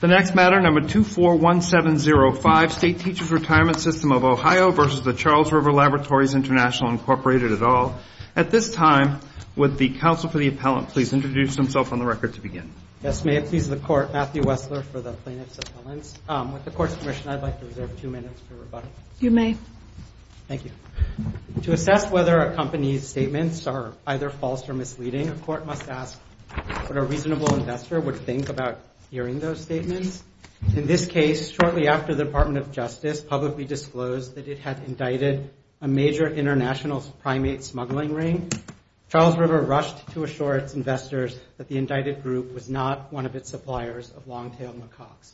The next matter, number 241705, State Teachers Retirement System of Ohio v. Charles River Laboratories International, Inc., et al. At this time, would the counsel for the appellant please introduce himself on the record to begin? Yes, may it please the Court, Matthew Wessler for the plaintiff's appellant. With the Court's permission, I'd like to reserve two minutes for rebuttal. You may. Thank you. To assess whether a company's statements are either false or misleading, a court must ask what a reasonable investor would think about hearing those statements. In this case, shortly after the Department of Justice publicly disclosed that it had indicted a major international primate smuggling ring, Charles River rushed to assure its investors that the indicted group was not one of its suppliers of long-tailed macaques.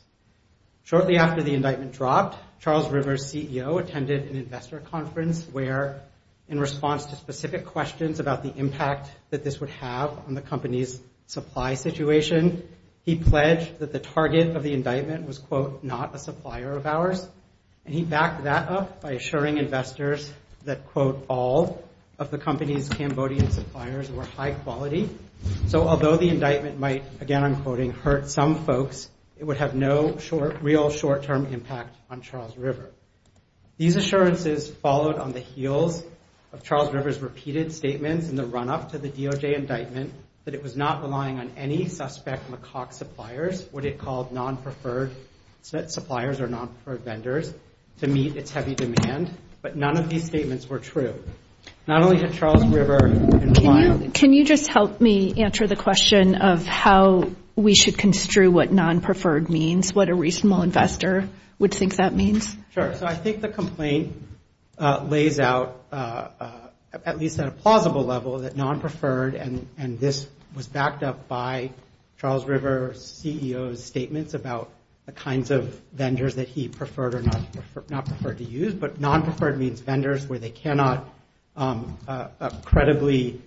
Shortly after the indictment dropped, Charles River's CEO attended an investor conference where, in response to specific questions about the impact that this would have on the company's supply situation, he pledged that the target of the indictment was, quote, not a supplier of ours. And he backed that up by assuring investors that, quote, all of the company's Cambodian suppliers were high quality. So although the indictment might, again I'm quoting, hurt some folks, it would have no real short-term impact on Charles River. These assurances followed on the heels of Charles River's repeated statements in the run-up to the DOJ indictment that it was not relying on any suspect macaque suppliers, what it called non-preferred suppliers or non-preferred vendors, to meet its heavy demand. But none of these statements were true. Not only had Charles River implied— Can you just help me answer the question of how we should construe what non-preferred means, or at least what a reasonable investor would think that means? Sure. So I think the complaint lays out, at least at a plausible level, that non-preferred, and this was backed up by Charles River's CEO's statements about the kinds of vendors that he preferred or not preferred to use, but non-preferred means vendors where they cannot credibly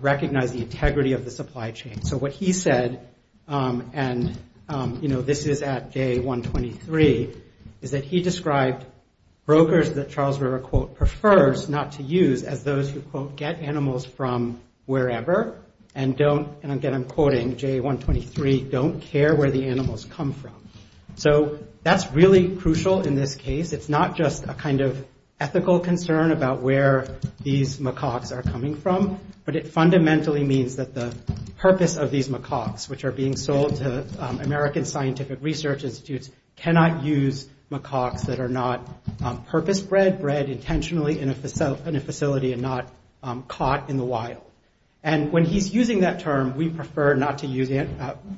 recognize the integrity of the supply chain. So what he said, and this is at J123, is that he described brokers that Charles River, quote, prefers not to use as those who, quote, get animals from wherever, and don't, and again I'm quoting J123, don't care where the animals come from. So that's really crucial in this case. It's not just a kind of ethical concern about where these macaques are coming from, but it fundamentally means that the purpose of these macaques, which are being sold to American scientific research institutes, cannot use macaques that are not purpose-bred, bred intentionally in a facility and not caught in the wild. And when he's using that term, we prefer not to use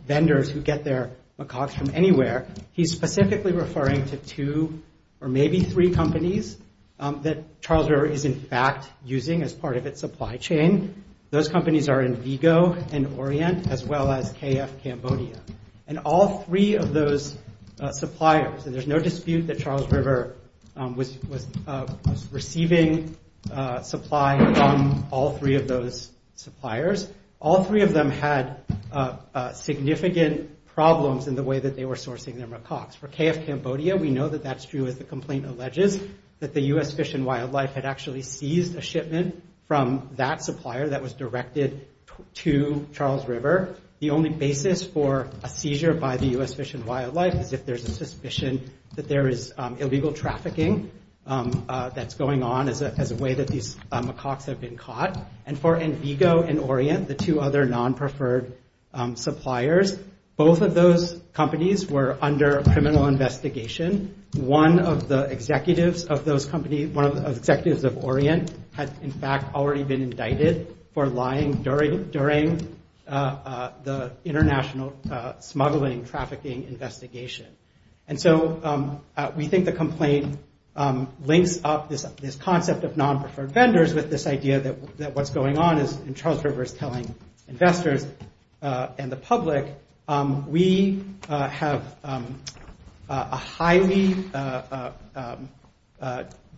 vendors who get their macaques from anywhere, he's specifically referring to two or maybe three companies that Charles River is in fact using as part of its supply chain. Those companies are Invigo and Orient, as well as KF Cambodia. And all three of those suppliers, and there's no dispute that Charles River was receiving supply from all three of those suppliers, all three of them had significant problems in the way that they were sourcing their macaques. For KF Cambodia, we know that that's true as the complaint alleges, that the U.S. Fish and Wildlife had actually seized a shipment from that supplier that was directed to Charles River. The only basis for a seizure by the U.S. Fish and Wildlife is if there's a suspicion that there is illegal trafficking that's going on as a way that these macaques have been caught. And for Invigo and Orient, the two other non-preferred suppliers, both of those companies were under criminal investigation. One of the executives of those companies, one of the executives of Orient, had in fact already been indicted for lying during the international smuggling trafficking investigation. And so we think the complaint links up this concept of non-preferred vendors with this idea that what's going on is, and Charles River is telling investors and the public, we have a highly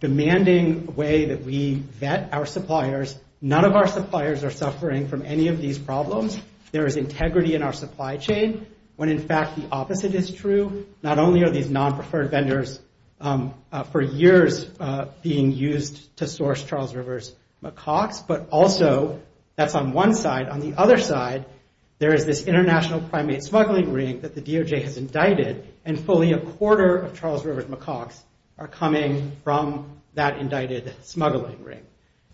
demanding way that we vet our suppliers. None of our suppliers are suffering from any of these problems. There is integrity in our supply chain when in fact the opposite is true. Not only are these non-preferred vendors for years being used to source Charles River's macaques, but also that's on one side. On the other side, there is this international primate smuggling ring that the DOJ has indicted, and fully a quarter of Charles River's macaques are coming from that indicted smuggling ring.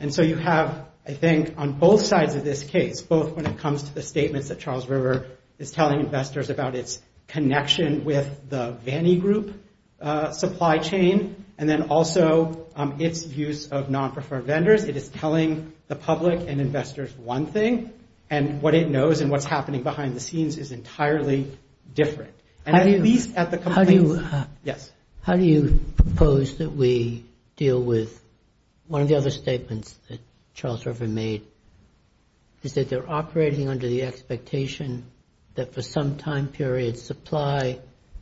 And so you have, I think, on both sides of this case, both when it comes to the statements that Charles River is telling investors about its connection with the Vanny Group supply chain, and then also its use of non-preferred vendors, it is telling the public and investors one thing, and what it knows and what's happening behind the scenes is entirely different. How do you propose that we deal with one of the other statements that Charles River made, is that they're operating under the expectation that for some time period, supply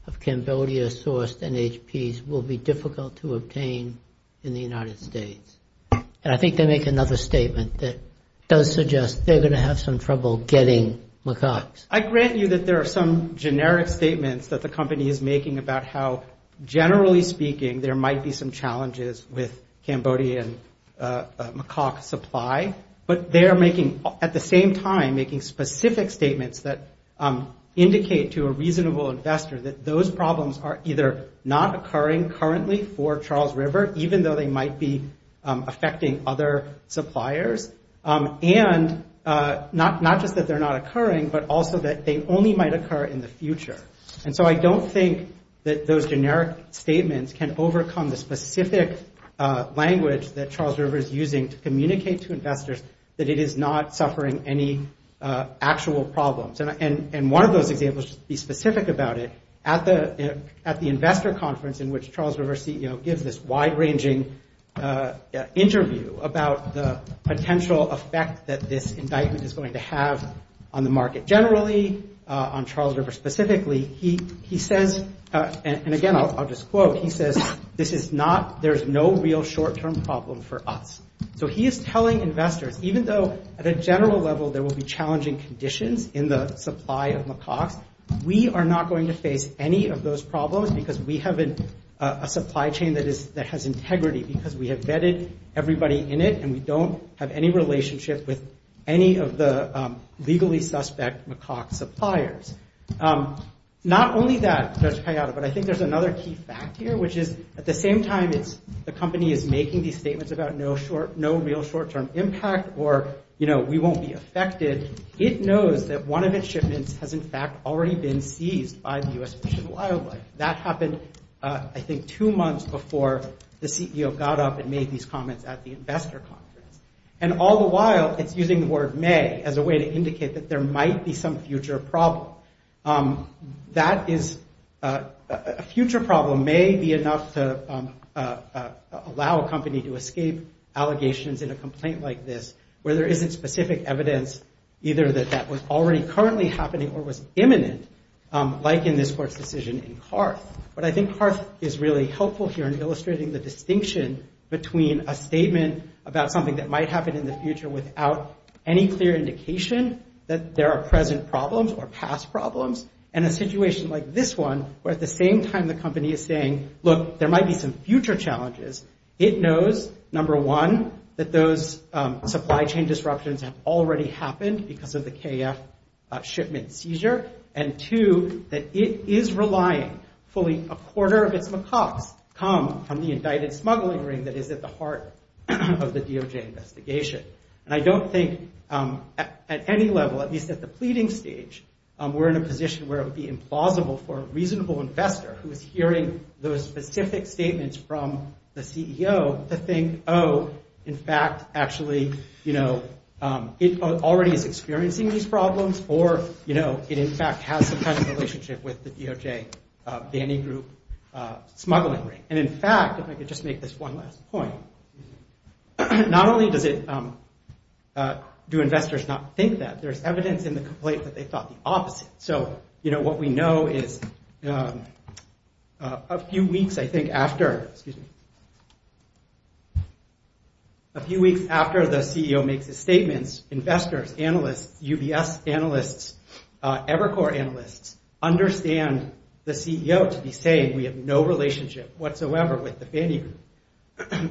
of Cambodia-sourced NHPs will be difficult to obtain in the United States. And I think they make another statement that does suggest they're going to have some trouble getting macaques. I grant you that there are some generic statements that the company is making about how, generally speaking, there might be some challenges with Cambodian macaque supply. But they are making, at the same time, making specific statements that indicate to a reasonable investor that those problems are either not occurring currently for Charles River, even though they might be affecting other suppliers, and not just that they're not occurring, but also that they only might occur in the future. And so I don't think that those generic statements can overcome the specific language that Charles River is using to communicate to investors that it is not suffering any actual problems. And one of those examples should be specific about it. At the investor conference in which Charles River CEO gives this wide-ranging interview about the potential effect that this indictment is going to have on the market generally, on Charles River specifically, he says, and again I'll just quote, he says, this is not, there's no real short-term problem for us. So he is telling investors, even though at a general level there will be challenging conditions in the supply of macaques, we are not going to face any of those problems because we have a supply chain that has integrity, because we have vetted everybody in it, and we don't have any relationship with any of the legally suspect macaque suppliers. Not only that, Judge Kayada, but I think there's another key fact here, which is, at the same time, the company is making these statements about no real short-term impact, or, you know, we won't be affected. It knows that one of its shipments has, in fact, already been seized by the U.S. Fish and Wildlife. That happened, I think, two months before the CEO got up and made these comments at the investor conference. And all the while, it's using the word may as a way to indicate that there might be some future problem. That is, a future problem may be enough to allow a company to escape allegations in a complaint like this, where there isn't specific evidence either that that was already currently happening or was imminent, like in this court's decision in Carth. But I think Carth is really helpful here in illustrating the distinction between a statement about something that might happen in the future without any clear indication that there are present problems or past problems, and a situation like this one, where at the same time the company is saying, look, there might be some future challenges, it knows, number one, that those supply chain disruptions have already happened because of the KF shipment seizure, and two, that it is relying fully a quarter of its macaques come from the indicted smuggling ring that is at the heart of the DOJ investigation. And I don't think at any level, at least at the pleading stage, we're in a position where it would be implausible for a reasonable investor who is hearing those specific statements from the CEO to think, oh, in fact, actually, you know, it already is experiencing these problems or, you know, it in fact has some kind of relationship with the DOJ banning group smuggling ring. And in fact, if I could just make this one last point, not only do investors not think that, but there's evidence in the complaint that they thought the opposite. So, you know, what we know is a few weeks, I think, after, excuse me, a few weeks after the CEO makes his statements, investors, analysts, UBS analysts, Evercore analysts, understand the CEO to be saying we have no relationship whatsoever with the banning group.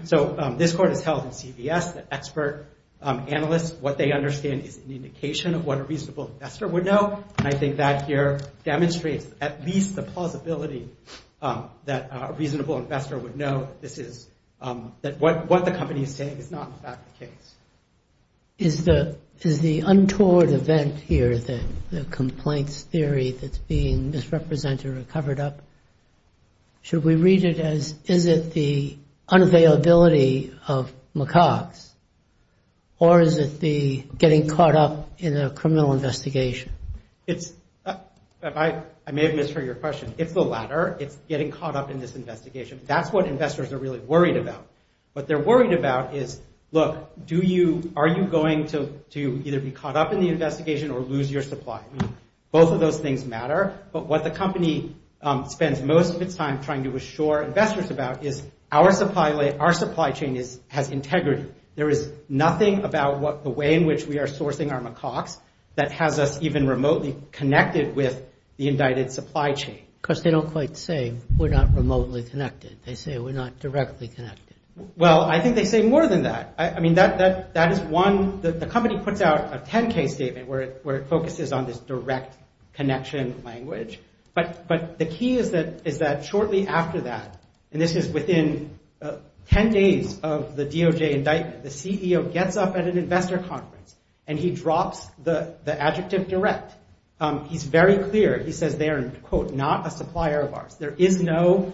So this court has held in CVS that expert analysts, what they understand is an indication of what a reasonable investor would know. And I think that here demonstrates at least the plausibility that a reasonable investor would know. This is what the company is saying is not in fact the case. Is the untoward event here, the complaints theory that's being misrepresented or covered up, should we read it as is it the unavailability of macaques or is it the getting caught up in a criminal investigation? It's, I may have misheard your question. It's the latter. It's getting caught up in this investigation. That's what investors are really worried about. What they're worried about is, look, do you, are you going to either be caught up in the investigation or lose your supply? Both of those things matter. But what the company spends most of its time trying to assure investors about is our supply chain has integrity. There is nothing about the way in which we are sourcing our macaques that has us even remotely connected with the indicted supply chain. Because they don't quite say we're not remotely connected. They say we're not directly connected. Well, I think they say more than that. I mean, that is one, the company puts out a 10K statement where it focuses on this direct connection language. But the key is that shortly after that, and this is within 10 days of the DOJ indictment, the CEO gets up at an investor conference and he drops the adjective direct. He's very clear. He says they are, quote, not a supplier of ours. There is no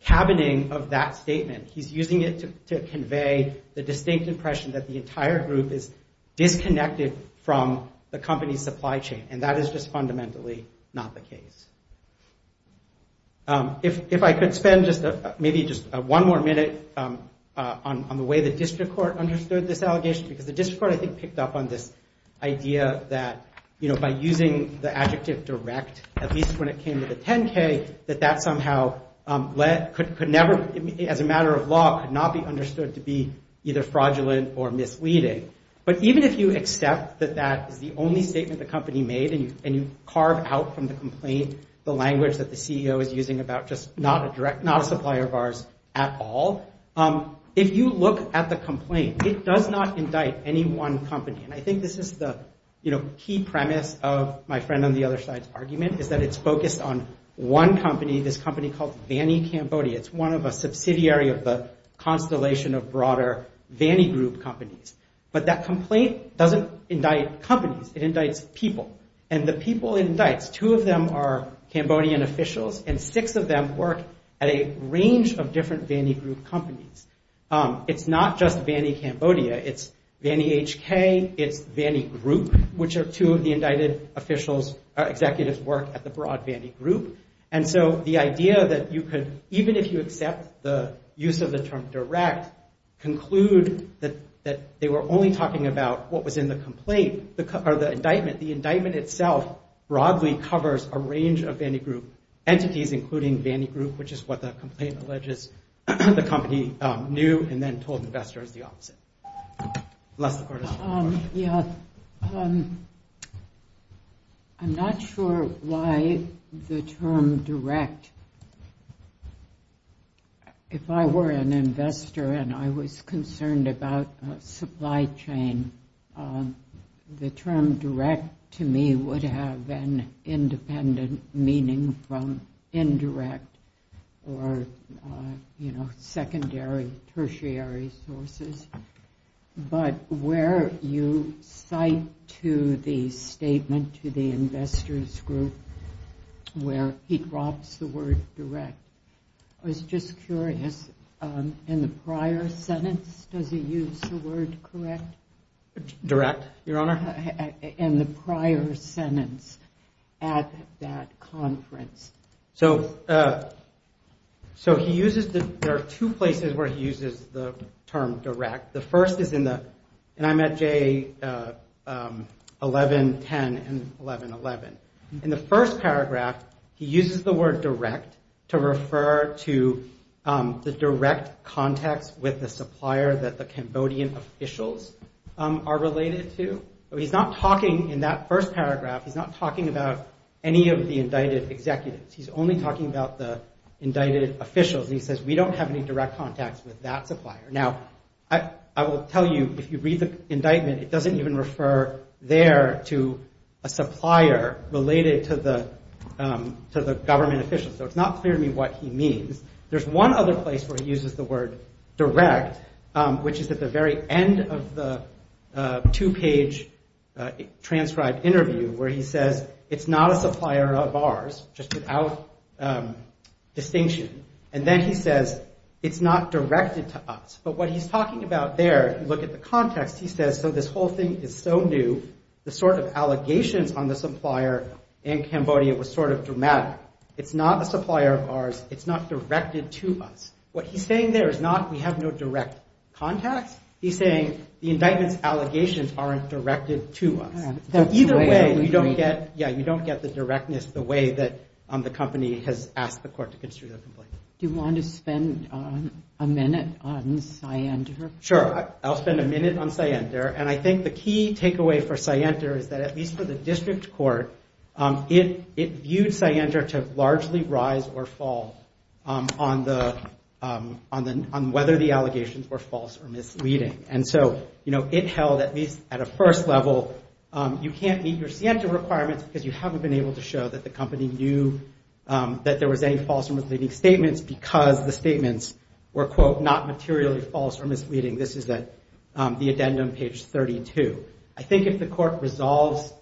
cabining of that statement. He's using it to convey the distinct impression that the entire group is disconnected from the company's supply chain. And that is just fundamentally not the case. If I could spend just maybe just one more minute on the way the district court understood this allegation, because the district court, I think, picked up on this idea that, you know, by using the adjective direct, at least when it came to the 10K, that that somehow could never, as a matter of law, could not be understood to be either fraudulent or misleading. But even if you accept that that is the only statement the company made and you carve out from the complaint the language that the CEO is using about just not a direct, not a supplier of ours at all, if you look at the complaint, it does not indict any one company. And I think this is the key premise of my friend on the other side's argument, is that it's focused on one company, this company called Vanny Cambodia. It's one of a subsidiary of the constellation of broader Vanny Group companies. But that complaint doesn't indict companies. It indicts people. And the people it indicts, two of them are Cambodian officials, and six of them work at a range of different Vanny Group companies. It's not just Vanny Cambodia. It's Vanny HK, it's Vanny Group, which are two of the indicted officials, executives work at the broad Vanny Group. And so the idea that you could, even if you accept the use of the term direct, conclude that they were only talking about what was in the complaint, or the indictment, the indictment itself broadly covers a range of Vanny Group entities, including Vanny Group, which is what the complaint alleges the company knew and then told investors the opposite. Les, the floor is yours. Yes. I'm not sure why the term direct, if I were an investor and I was concerned about supply chain, the term direct to me would have an independent meaning from indirect or secondary, tertiary sources. But where you cite to the statement to the investors group where he drops the word direct, I was just curious, in the prior sentence, does he use the word correct? Direct, Your Honor? In the prior sentence at that conference. So he uses, there are two places where he uses the term direct. The first is in the, and I'm at J1110 and 1111. In the first paragraph, he uses the word direct to refer to the direct context with the supplier that the Cambodian officials are related to. He's not talking in that first paragraph, he's not talking about any of the indicted executives. He's only talking about the indicted officials. And he says, we don't have any direct contacts with that supplier. Now, I will tell you, if you read the indictment, it doesn't even refer there to a supplier related to the government officials. So it's not clear to me what he means. There's one other place where he uses the word direct, which is at the very end of the two-page transcribed interview, where he says, it's not a supplier of ours, just without distinction. And then he says, it's not directed to us. But what he's talking about there, if you look at the context, he says, so this whole thing is so new, the sort of allegations on the supplier in Cambodia was sort of dramatic. It's not a supplier of ours. It's not directed to us. What he's saying there is not we have no direct contacts. He's saying the indictment's allegations aren't directed to us. So either way, you don't get the directness the way that the company has asked the court to construe the complaint. Do you want to spend a minute on Syander? Sure, I'll spend a minute on Syander. And I think the key takeaway for Syander is that at least for the district court, it viewed Syander to largely rise or fall on whether the allegations were false or misleading. And so, you know, it held at least at a first level, you can't meet your Syander requirements because you haven't been able to show that the company knew that there was any false or misleading statements because the statements were, quote, not materially false or misleading. This is the addendum, page 32. I think if the court resolves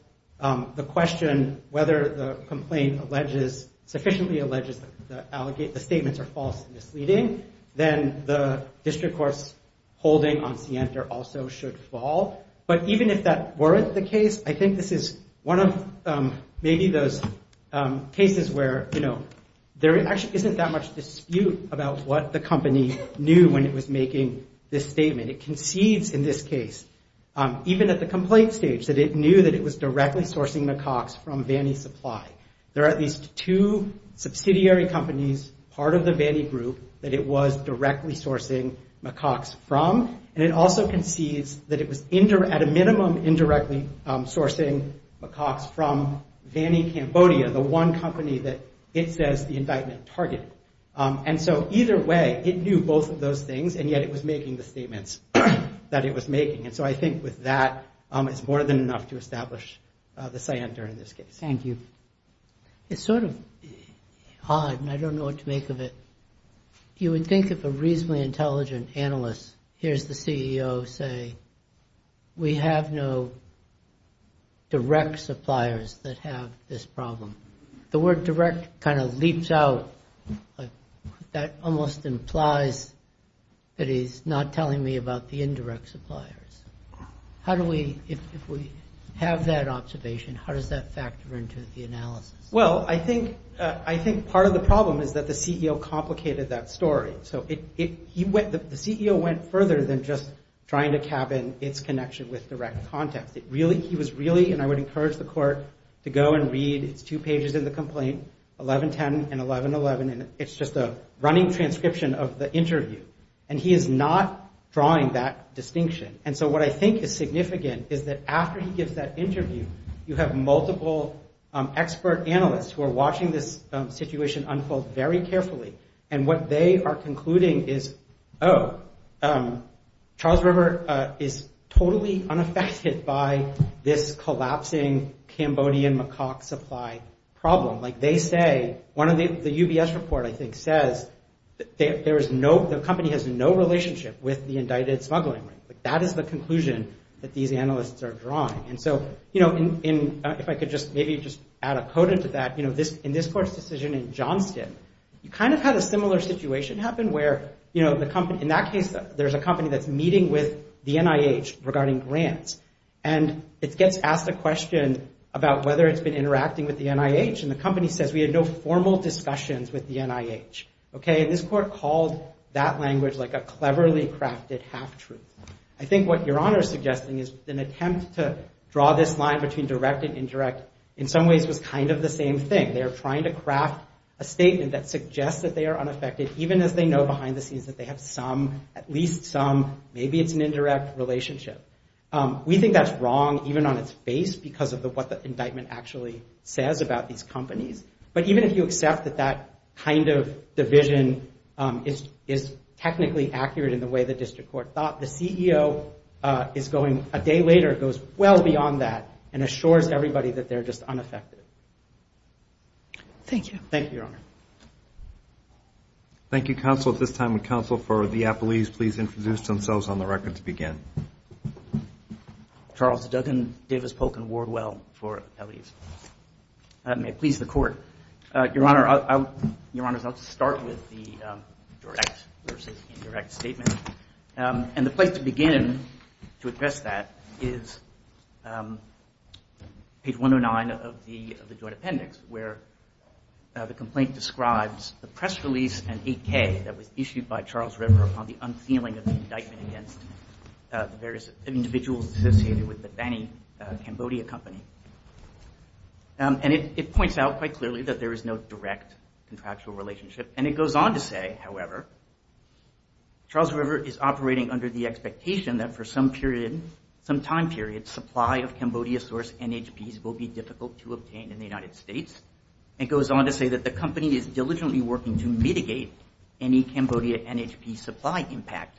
the question whether the complaint alleges, sufficiently alleges, the statements are false and misleading, then the district court's holding on Syander also should fall. But even if that weren't the case, I think this is one of maybe those cases where, you know, there actually isn't that much dispute about what the company knew when it was making this statement. It concedes in this case, even at the complaint stage, that it knew that it was directly sourcing McCox from Vannie Supply. There are at least two subsidiary companies, part of the Vannie Group, that it was directly sourcing McCox from. And it also concedes that it was at a minimum indirectly sourcing McCox from Vannie Cambodia, the one company that it says the indictment targeted. And so either way, it knew both of those things, and yet it was making the statements that it was making. And so I think with that, it's more than enough to establish the Syander in this case. Thank you. It's sort of odd, and I don't know what to make of it. You would think of a reasonably intelligent analyst. Here's the CEO say, we have no direct suppliers that have this problem. The word direct kind of leaps out. That almost implies that he's not telling me about the indirect suppliers. How do we, if we have that observation, how does that factor into the analysis? Well, I think part of the problem is that the CEO complicated that story. So the CEO went further than just trying to cabin its connection with direct contacts. He was really, and I would encourage the court to go and read, it's two pages in the complaint, 1110 and 1111, and it's just a running transcription of the interview. And he is not drawing that distinction. And so what I think is significant is that after he gives that interview, you have multiple expert analysts who are watching this situation unfold very carefully. And what they are concluding is, oh, Charles River is totally unaffected by this collapsing Cambodian macaque supply problem. The UBS report, I think, says the company has no relationship with the indicted smuggling ring. That is the conclusion that these analysts are drawing. And so if I could just maybe just add a quote into that, in this court's decision in Johnston, you kind of had a similar situation happen where, in that case, there's a company that's meeting with the NIH regarding grants. And it gets asked a question about whether it's been interacting with the NIH, and the company says, we had no formal discussions with the NIH. Okay, and this court called that language like a cleverly crafted half-truth. I think what Your Honor is suggesting is an attempt to draw this line between direct and indirect in some ways was kind of the same thing. They are trying to craft a statement that suggests that they are unaffected, even as they know behind the scenes that they have some, at least some, maybe it's an indirect relationship. We think that's wrong even on its face because of what the indictment actually says about these companies. But even if you accept that that kind of division is technically accurate in the way the district court thought, the CEO is going a day later, goes well beyond that, and assures everybody that they're just unaffected. Thank you. Thank you, Your Honor. Thank you, counsel. At this time, would counsel for the appellees please introduce themselves on the record to begin. Charles Duggan, Davis Polk, and Ward Well for appellees. May it please the court. Your Honor, I'll start with the direct versus indirect statement. And the place to begin to address that is page 109 of the joint appendix, where the complaint describes the press release and 8K that was issued by Charles River upon the unsealing of the indictment against the various individuals associated with the Bani Cambodia company. And it points out quite clearly that there is no direct contractual relationship. And it goes on to say, however, Charles River is operating under the expectation that for some period, some time period, supply of Cambodia source NHPs will be difficult to obtain in the United States. It goes on to say that the company is diligently working to mitigate any Cambodia NHP supply impact.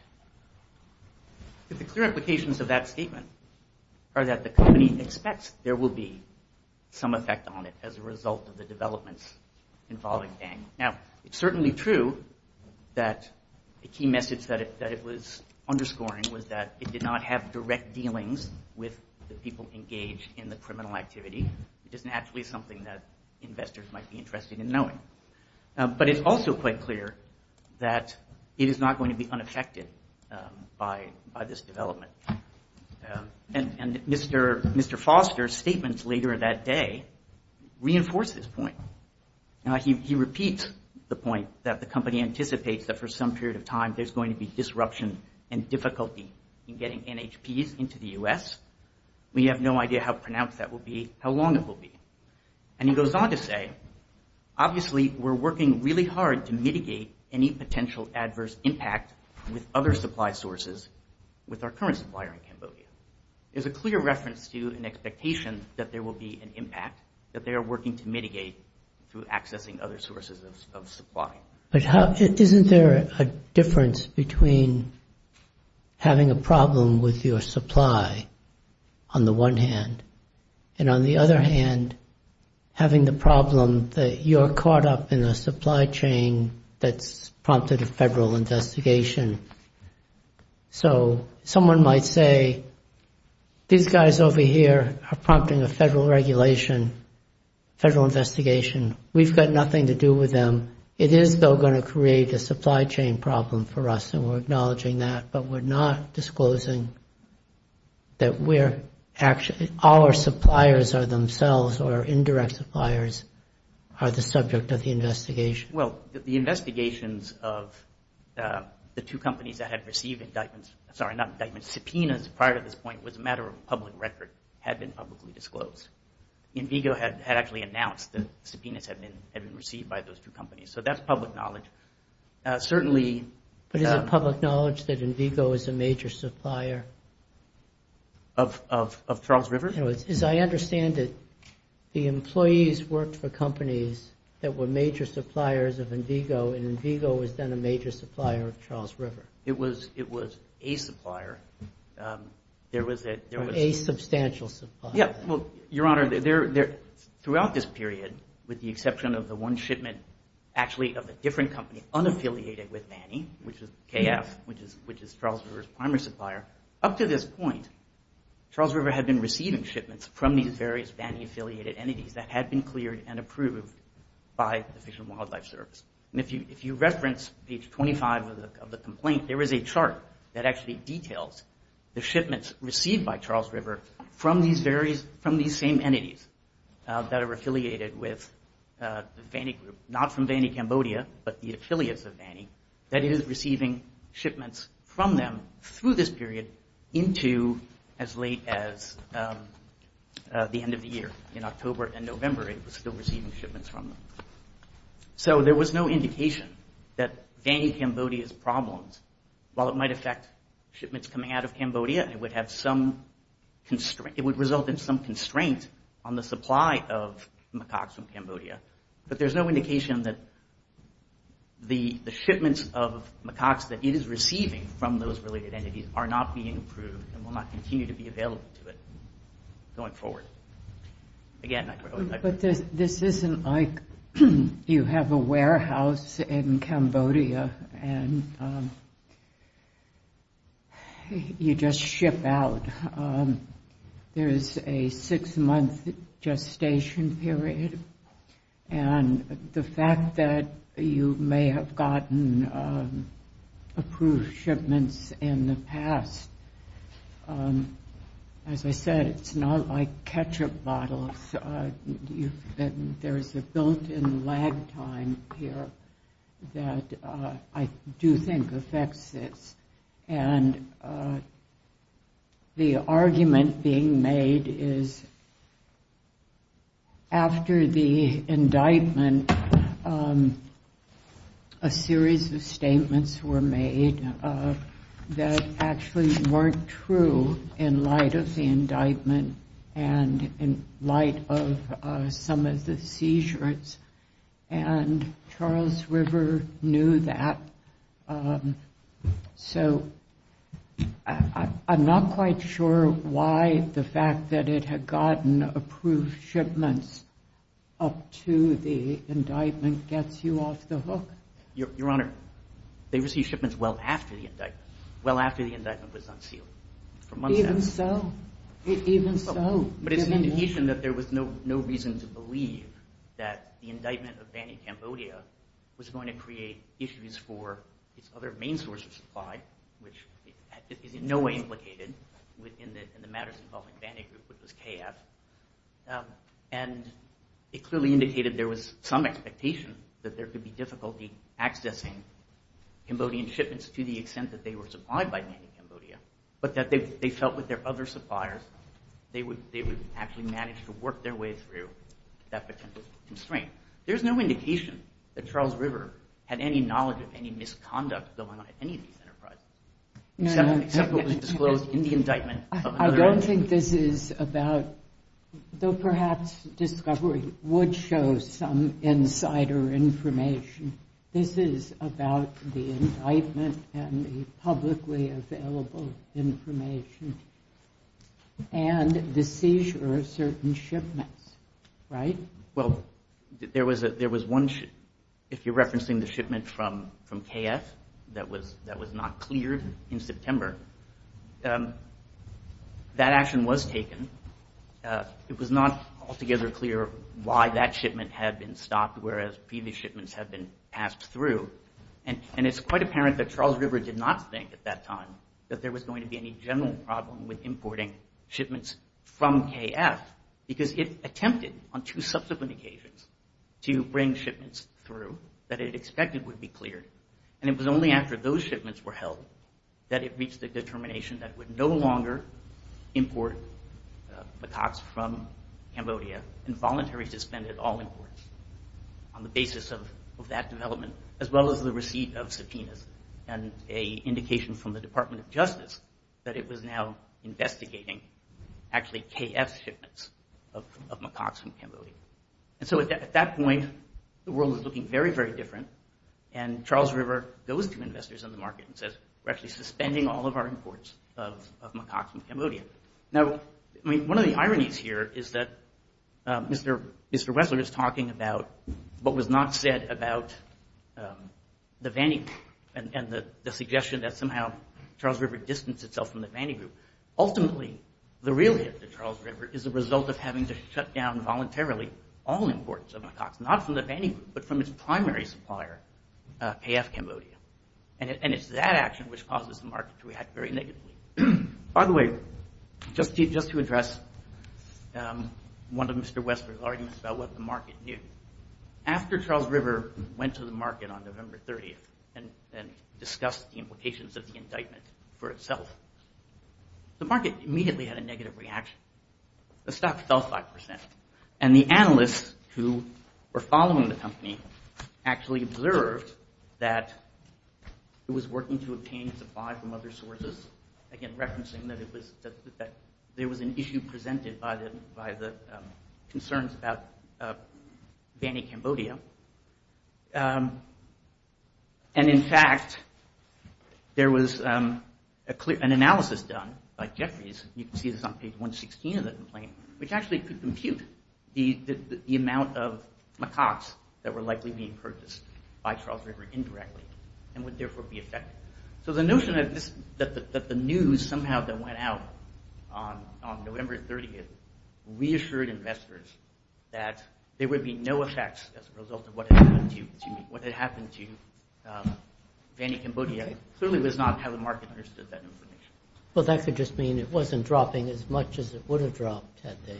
The clear implications of that statement are that the company expects there will be some effect on it as a result of the developments involving Dang. Now, it's certainly true that a key message that it was underscoring was that it did not have direct dealings with the people engaged in the criminal activity. It isn't actually something that investors might be interested in knowing. But it's also quite clear that it is not going to be unaffected by this development. And Mr. Foster's statements later that day reinforce this point. He repeats the point that the company anticipates that for some period of time, there's going to be disruption and difficulty in getting NHPs into the U.S. We have no idea how pronounced that will be, how long it will be. And he goes on to say, obviously, we're working really hard to mitigate any potential adverse impact with other supply sources with our current supplier in Cambodia. There's a clear reference to an expectation that there will be an impact, that they are working to mitigate through accessing other sources of supply. But isn't there a difference between having a problem with your supply on the one hand and on the other hand having the problem that you're caught up in a supply chain that's prompted a federal investigation? So someone might say, these guys over here are prompting a federal regulation, federal investigation. We've got nothing to do with them. It is, though, going to create a supply chain problem for us, and we're acknowledging that. But we're not disclosing that our suppliers are themselves, or indirect suppliers are the subject of the investigation. Well, the investigations of the two companies that had received indictments, sorry, not indictments, subpoenas prior to this point was a matter of public record, had been publicly disclosed. INVIGO had actually announced that subpoenas had been received by those two companies. So that's public knowledge. Certainly. But is it public knowledge that INVIGO is a major supplier? Of Charles River? As I understand it, the employees worked for companies that were major suppliers of INVIGO, and INVIGO was then a major supplier of Charles River. It was a supplier. A substantial supplier. Your Honor, throughout this period, with the exception of the one shipment, actually of a different company unaffiliated with Manny, which is KF, which is Charles River's primary supplier, up to this point, Charles River had been receiving shipments from these various Manny-affiliated entities that had been cleared and approved by the Fish and Wildlife Service. And if you reference page 25 of the complaint, there is a chart that actually details the shipments received by Charles River from these same entities that are affiliated with the Manny group, not from Manny Cambodia, but the affiliates of Manny, that it is receiving shipments from them through this period into as late as the end of the year. In October and November, it was still receiving shipments from them. So there was no indication that Manny Cambodia's problems, while it might affect shipments coming out of Cambodia, it would result in some constraint on the supply of macaques from Cambodia. But there's no indication that the shipments of macaques that it is receiving from those related entities are not being approved and will not continue to be available to it going forward. Again, I... But this isn't like you have a warehouse in Cambodia and you just ship out. There is a six-month gestation period. And the fact that you may have gotten approved shipments in the past, as I said, it's not like ketchup bottles. There is a built-in lag time here that I do think affects this. And the argument being made is after the indictment, a series of statements were made that actually weren't true in light of the indictment and in light of some of the seizures. And Charles River knew that. So I'm not quite sure why the fact that it had gotten approved shipments up to the indictment gets you off the hook. Your Honor, they received shipments well after the indictment. Well after the indictment was unsealed. Even so? But it's an indication that there was no reason to believe that the indictment of Bani Cambodia was going to create issues for its other main source of supply, which is in no way implicated in the matters involving Bani group, which was KF. And it clearly indicated there was some expectation that there could be difficulty accessing Cambodian shipments to the extent that they were supplied by Bani Cambodia, but that they felt with their other suppliers, they would actually manage to work their way through that potential constraint. There's no indication that Charles River had any knowledge of any misconduct going on at any of these enterprises, except what was disclosed in the indictment. I don't think this is about, though perhaps discovery would show some insider information. This is about the indictment and the publicly available information and the seizure of certain shipments, right? Well, there was one, if you're referencing the shipment from KF that was not cleared in September, that action was taken. It was not altogether clear why that shipment had been stopped, whereas previous shipments had been passed through. And it's quite apparent that Charles River did not think at that time that there was going to be any general problem with importing shipments from KF, because it attempted on two subsequent occasions to bring shipments through that it expected would be cleared. And it was only after those shipments were held that it reached the determination that it would no longer import macaques from Cambodia and voluntarily suspended all imports on the basis of that development, as well as the receipt of subpoenas and an indication from the Department of Justice that it was now investigating actually KF shipments of macaques from Cambodia. And so at that point, the world was looking very, very different and Charles River goes to investors in the market and says, we're actually suspending all of our imports of macaques from Cambodia. Now, I mean, one of the ironies here is that Mr. Wessler is talking about what was not said about the Vanny Group and the suggestion that somehow Charles River distanced itself from the Vanny Group. Ultimately, the real hit to Charles River is the result of having to shut down voluntarily all imports of macaques, not from the Vanny Group, but from its primary supplier, KF Cambodia. And it's that action which causes the market to react very negatively. By the way, just to address one of Mr. Wessler's arguments about what the market knew. After Charles River went to the market on November 30th and discussed the implications of the indictment for itself, the market immediately had a negative reaction. The stock fell 5%, and the analysts who were following the company actually observed that it was working to obtain supply from other sources. Again, referencing that there was an issue presented by the concerns about Vanny Cambodia. And in fact, there was an analysis done by Jeffries. You can see this on page 116 of the complaint, which actually could compute the amount of macaques that were likely being purchased by Charles River indirectly and would therefore be affected. So the notion that the news somehow that went out on November 30th reassured investors that there would be no effects as a result of what had happened to Vanny Cambodia clearly was not how the market understood that information. Well, that could just mean it wasn't dropping as much as it would have dropped had they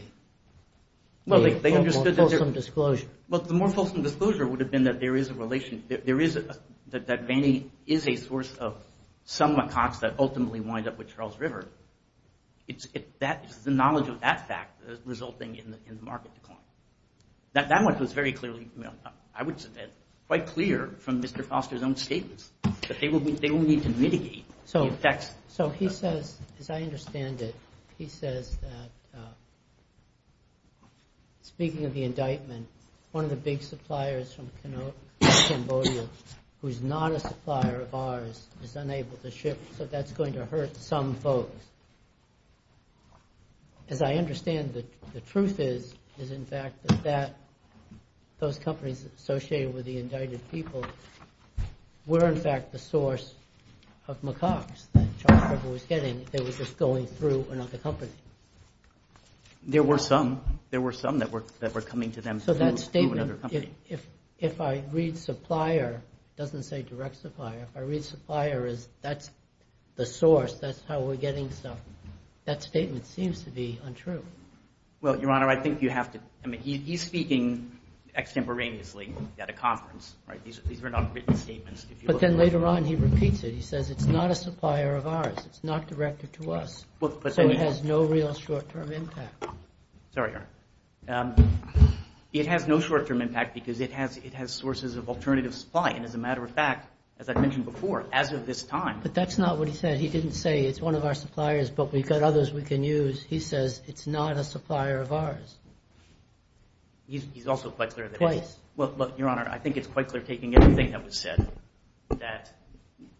made a more fulsome disclosure. Well, the more fulsome disclosure would have been that there is a relation, that Vanny is a source of some macaques that ultimately wind up with Charles River. It's the knowledge of that fact that is resulting in the market decline. That much was very clearly, I would say, quite clear from Mr. Foster's own statements that they will need to mitigate the effects. So he says, as I understand it, he says that speaking of the indictment, one of the big suppliers from Cambodia who is not a supplier of ours is unable to ship, so that's going to hurt some folks. As I understand it, the truth is, is in fact that those companies associated with the indicted people were in fact the source of macaques that Charles River was getting if they were just going through another company. There were some. There were some that were coming to them through another company. So that statement, if I read supplier, it doesn't say direct supplier, if I read supplier as that's the source, that's how we're getting stuff, that statement seems to be untrue. Well, Your Honor, I think you have to, he's speaking extemporaneously at a conference. These are not written statements. But then later on he repeats it. He says it's not a supplier of ours. It's not directed to us. So it has no real short-term impact. Sorry, Your Honor. It has no short-term impact because it has sources of alternative supply, and as a matter of fact, as I mentioned before, as of this time. But that's not what he said. He didn't say it's one of our suppliers, but we've got others we can use. He says it's not a supplier of ours. He's also quite clear. Twice. Well, look, Your Honor, I think it's quite clear, taking everything that was said, that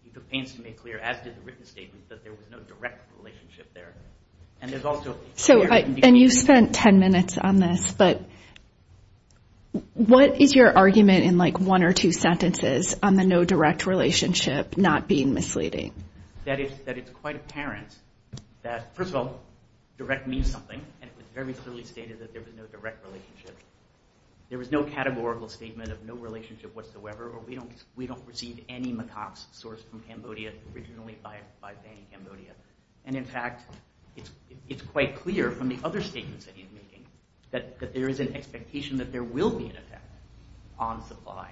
it remains to be made clear, as did the written statement, that there was no direct relationship there. And there's also. So, and you spent 10 minutes on this, but what is your argument in like one or two sentences on the no direct relationship not being misleading? That it's quite apparent that, first of all, direct means something, and it was very clearly stated that there was no direct relationship. There was no categorical statement of no relationship whatsoever, or we don't receive any macaques sourced from Cambodia, originally by Banyan Cambodia. And in fact, it's quite clear from the other statements that he's making that there is an expectation that there will be an effect on supply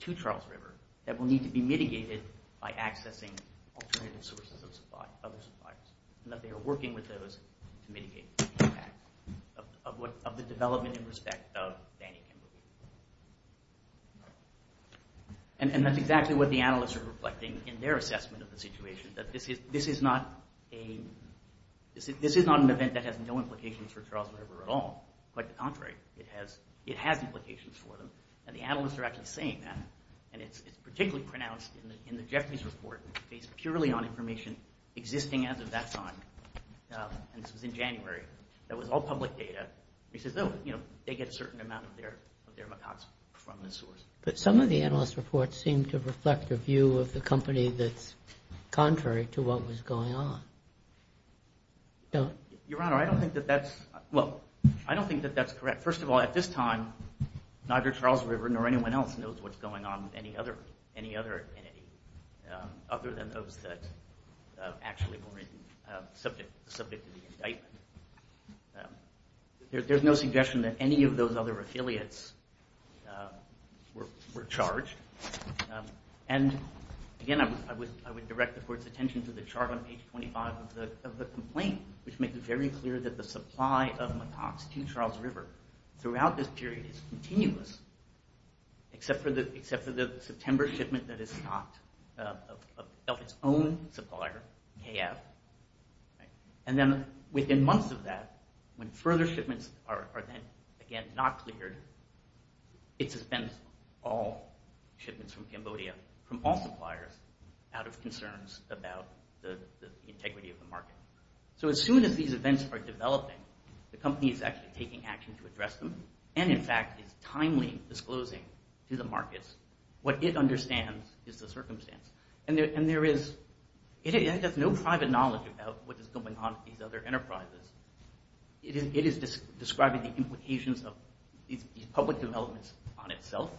to Charles River that will need to be mitigated by accessing alternative sources of supply, other suppliers, and that they are working with those to mitigate the impact of the development in respect of Banyan Cambodia. And that's exactly what the analysts are reflecting in their assessment of the situation, that this is not an event that has no implications for Charles River at all. Quite the contrary. It has implications for them, and the analysts are actually saying that, and it's particularly pronounced in the Jeffries report based purely on information existing as of that time. And this was in January. That was all public data. He says, oh, you know, they get a certain amount of their macaques from this source. But some of the analysts' reports seem to reflect a view of the company that's contrary to what was going on. Your Honor, I don't think that that's... Well, I don't think that that's correct. First of all, at this time, neither Charles River nor anyone else knows what's going on with any other entity other than those that actually were subject to the indictment. There's no suggestion that any of those other affiliates were charged. And again, I would direct the Court's attention to the chart on page 25 of the complaint, which makes it very clear that the supply of macaques to Charles River throughout this period is continuous, except for the September shipment that is stopped of its own supplier, KF. And then within months of that, when further shipments are then again not cleared, it suspends all shipments from Cambodia from all suppliers out of concerns about the integrity of the market. So as soon as these events are developing, the company is actually taking action to address them and in fact is timely disclosing to the markets what it understands is the circumstance. And there is... It has no private knowledge about what is going on with these other enterprises. It is describing the implications of these public developments on itself,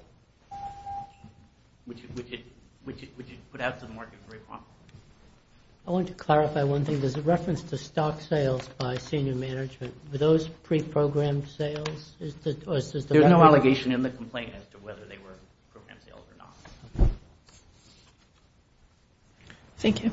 which it put out to the market very promptly. I want to clarify one thing. There's a reference to stock sales by senior management. Were those pre-programmed sales? There's no allegation in the complaint as to whether they were pre-programmed sales or not. Thank you.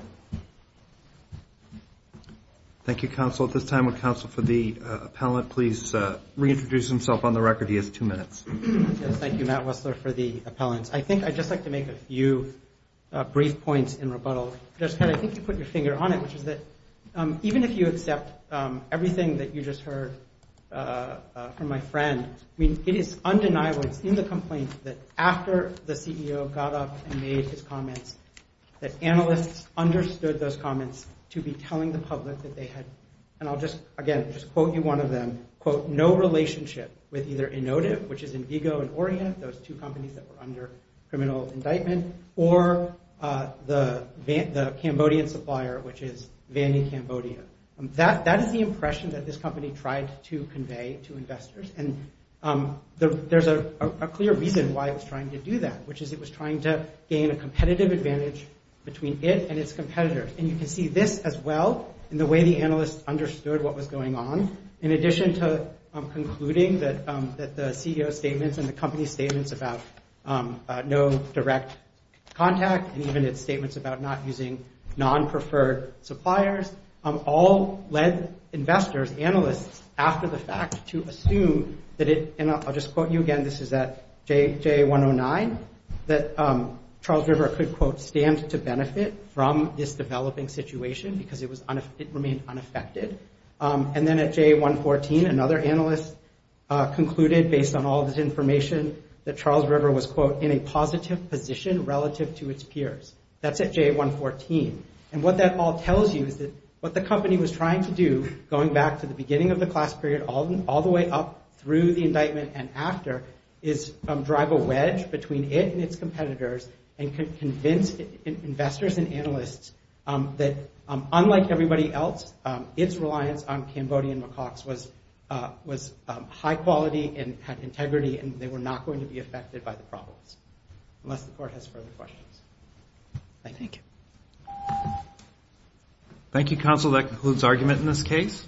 Thank you, counsel. At this time, would counsel for the appellant please reintroduce himself on the record? He has two minutes. Yes, thank you, Matt Wessler, for the appellant. I think I'd just like to make a few brief points in rebuttal. I think you put your finger on it, which is that even if you accept everything that you just heard from my friend, I mean, it is undeniable, it's in the complaint, that after the CEO got up and made his comments, that analysts understood those comments to be telling the public that they had, and I'll just, again, just quote you one of them, quote, no relationship with either Inotive, which is Indigo and Orient, those two companies that were under criminal indictment, or the Cambodian supplier, which is Vandy Cambodia. That is the impression that this company tried to convey to investors, and there's a clear reason why it was trying to do that, which is it was trying to gain a competitive advantage between it and its competitors, and you can see this as well in the way the analysts understood what was going on, in addition to concluding that the CEO's statements and the company's statements about no direct contact, and even its statements about not using non-preferred suppliers, all led investors, analysts, after the fact to assume that it, and I'll just quote you again, this is at JA109, that Charles River could, quote, stand to benefit from this developing situation because it remained unaffected. And then at JA114, another analyst concluded, based on all this information, that Charles River was, quote, in a positive position relative to its peers. That's at JA114. And what that all tells you is that what the company was trying to do, going back to the beginning of the class period all the way up through the indictment and after is drive a wedge between it and its competitors, and convince investors and analysts that, unlike everybody else, its reliance on Cambodian macaques was high quality and had integrity and they were not going to be affected by the problems, unless the court has further questions. Thank you. Thank you, counsel. That concludes argument in this case.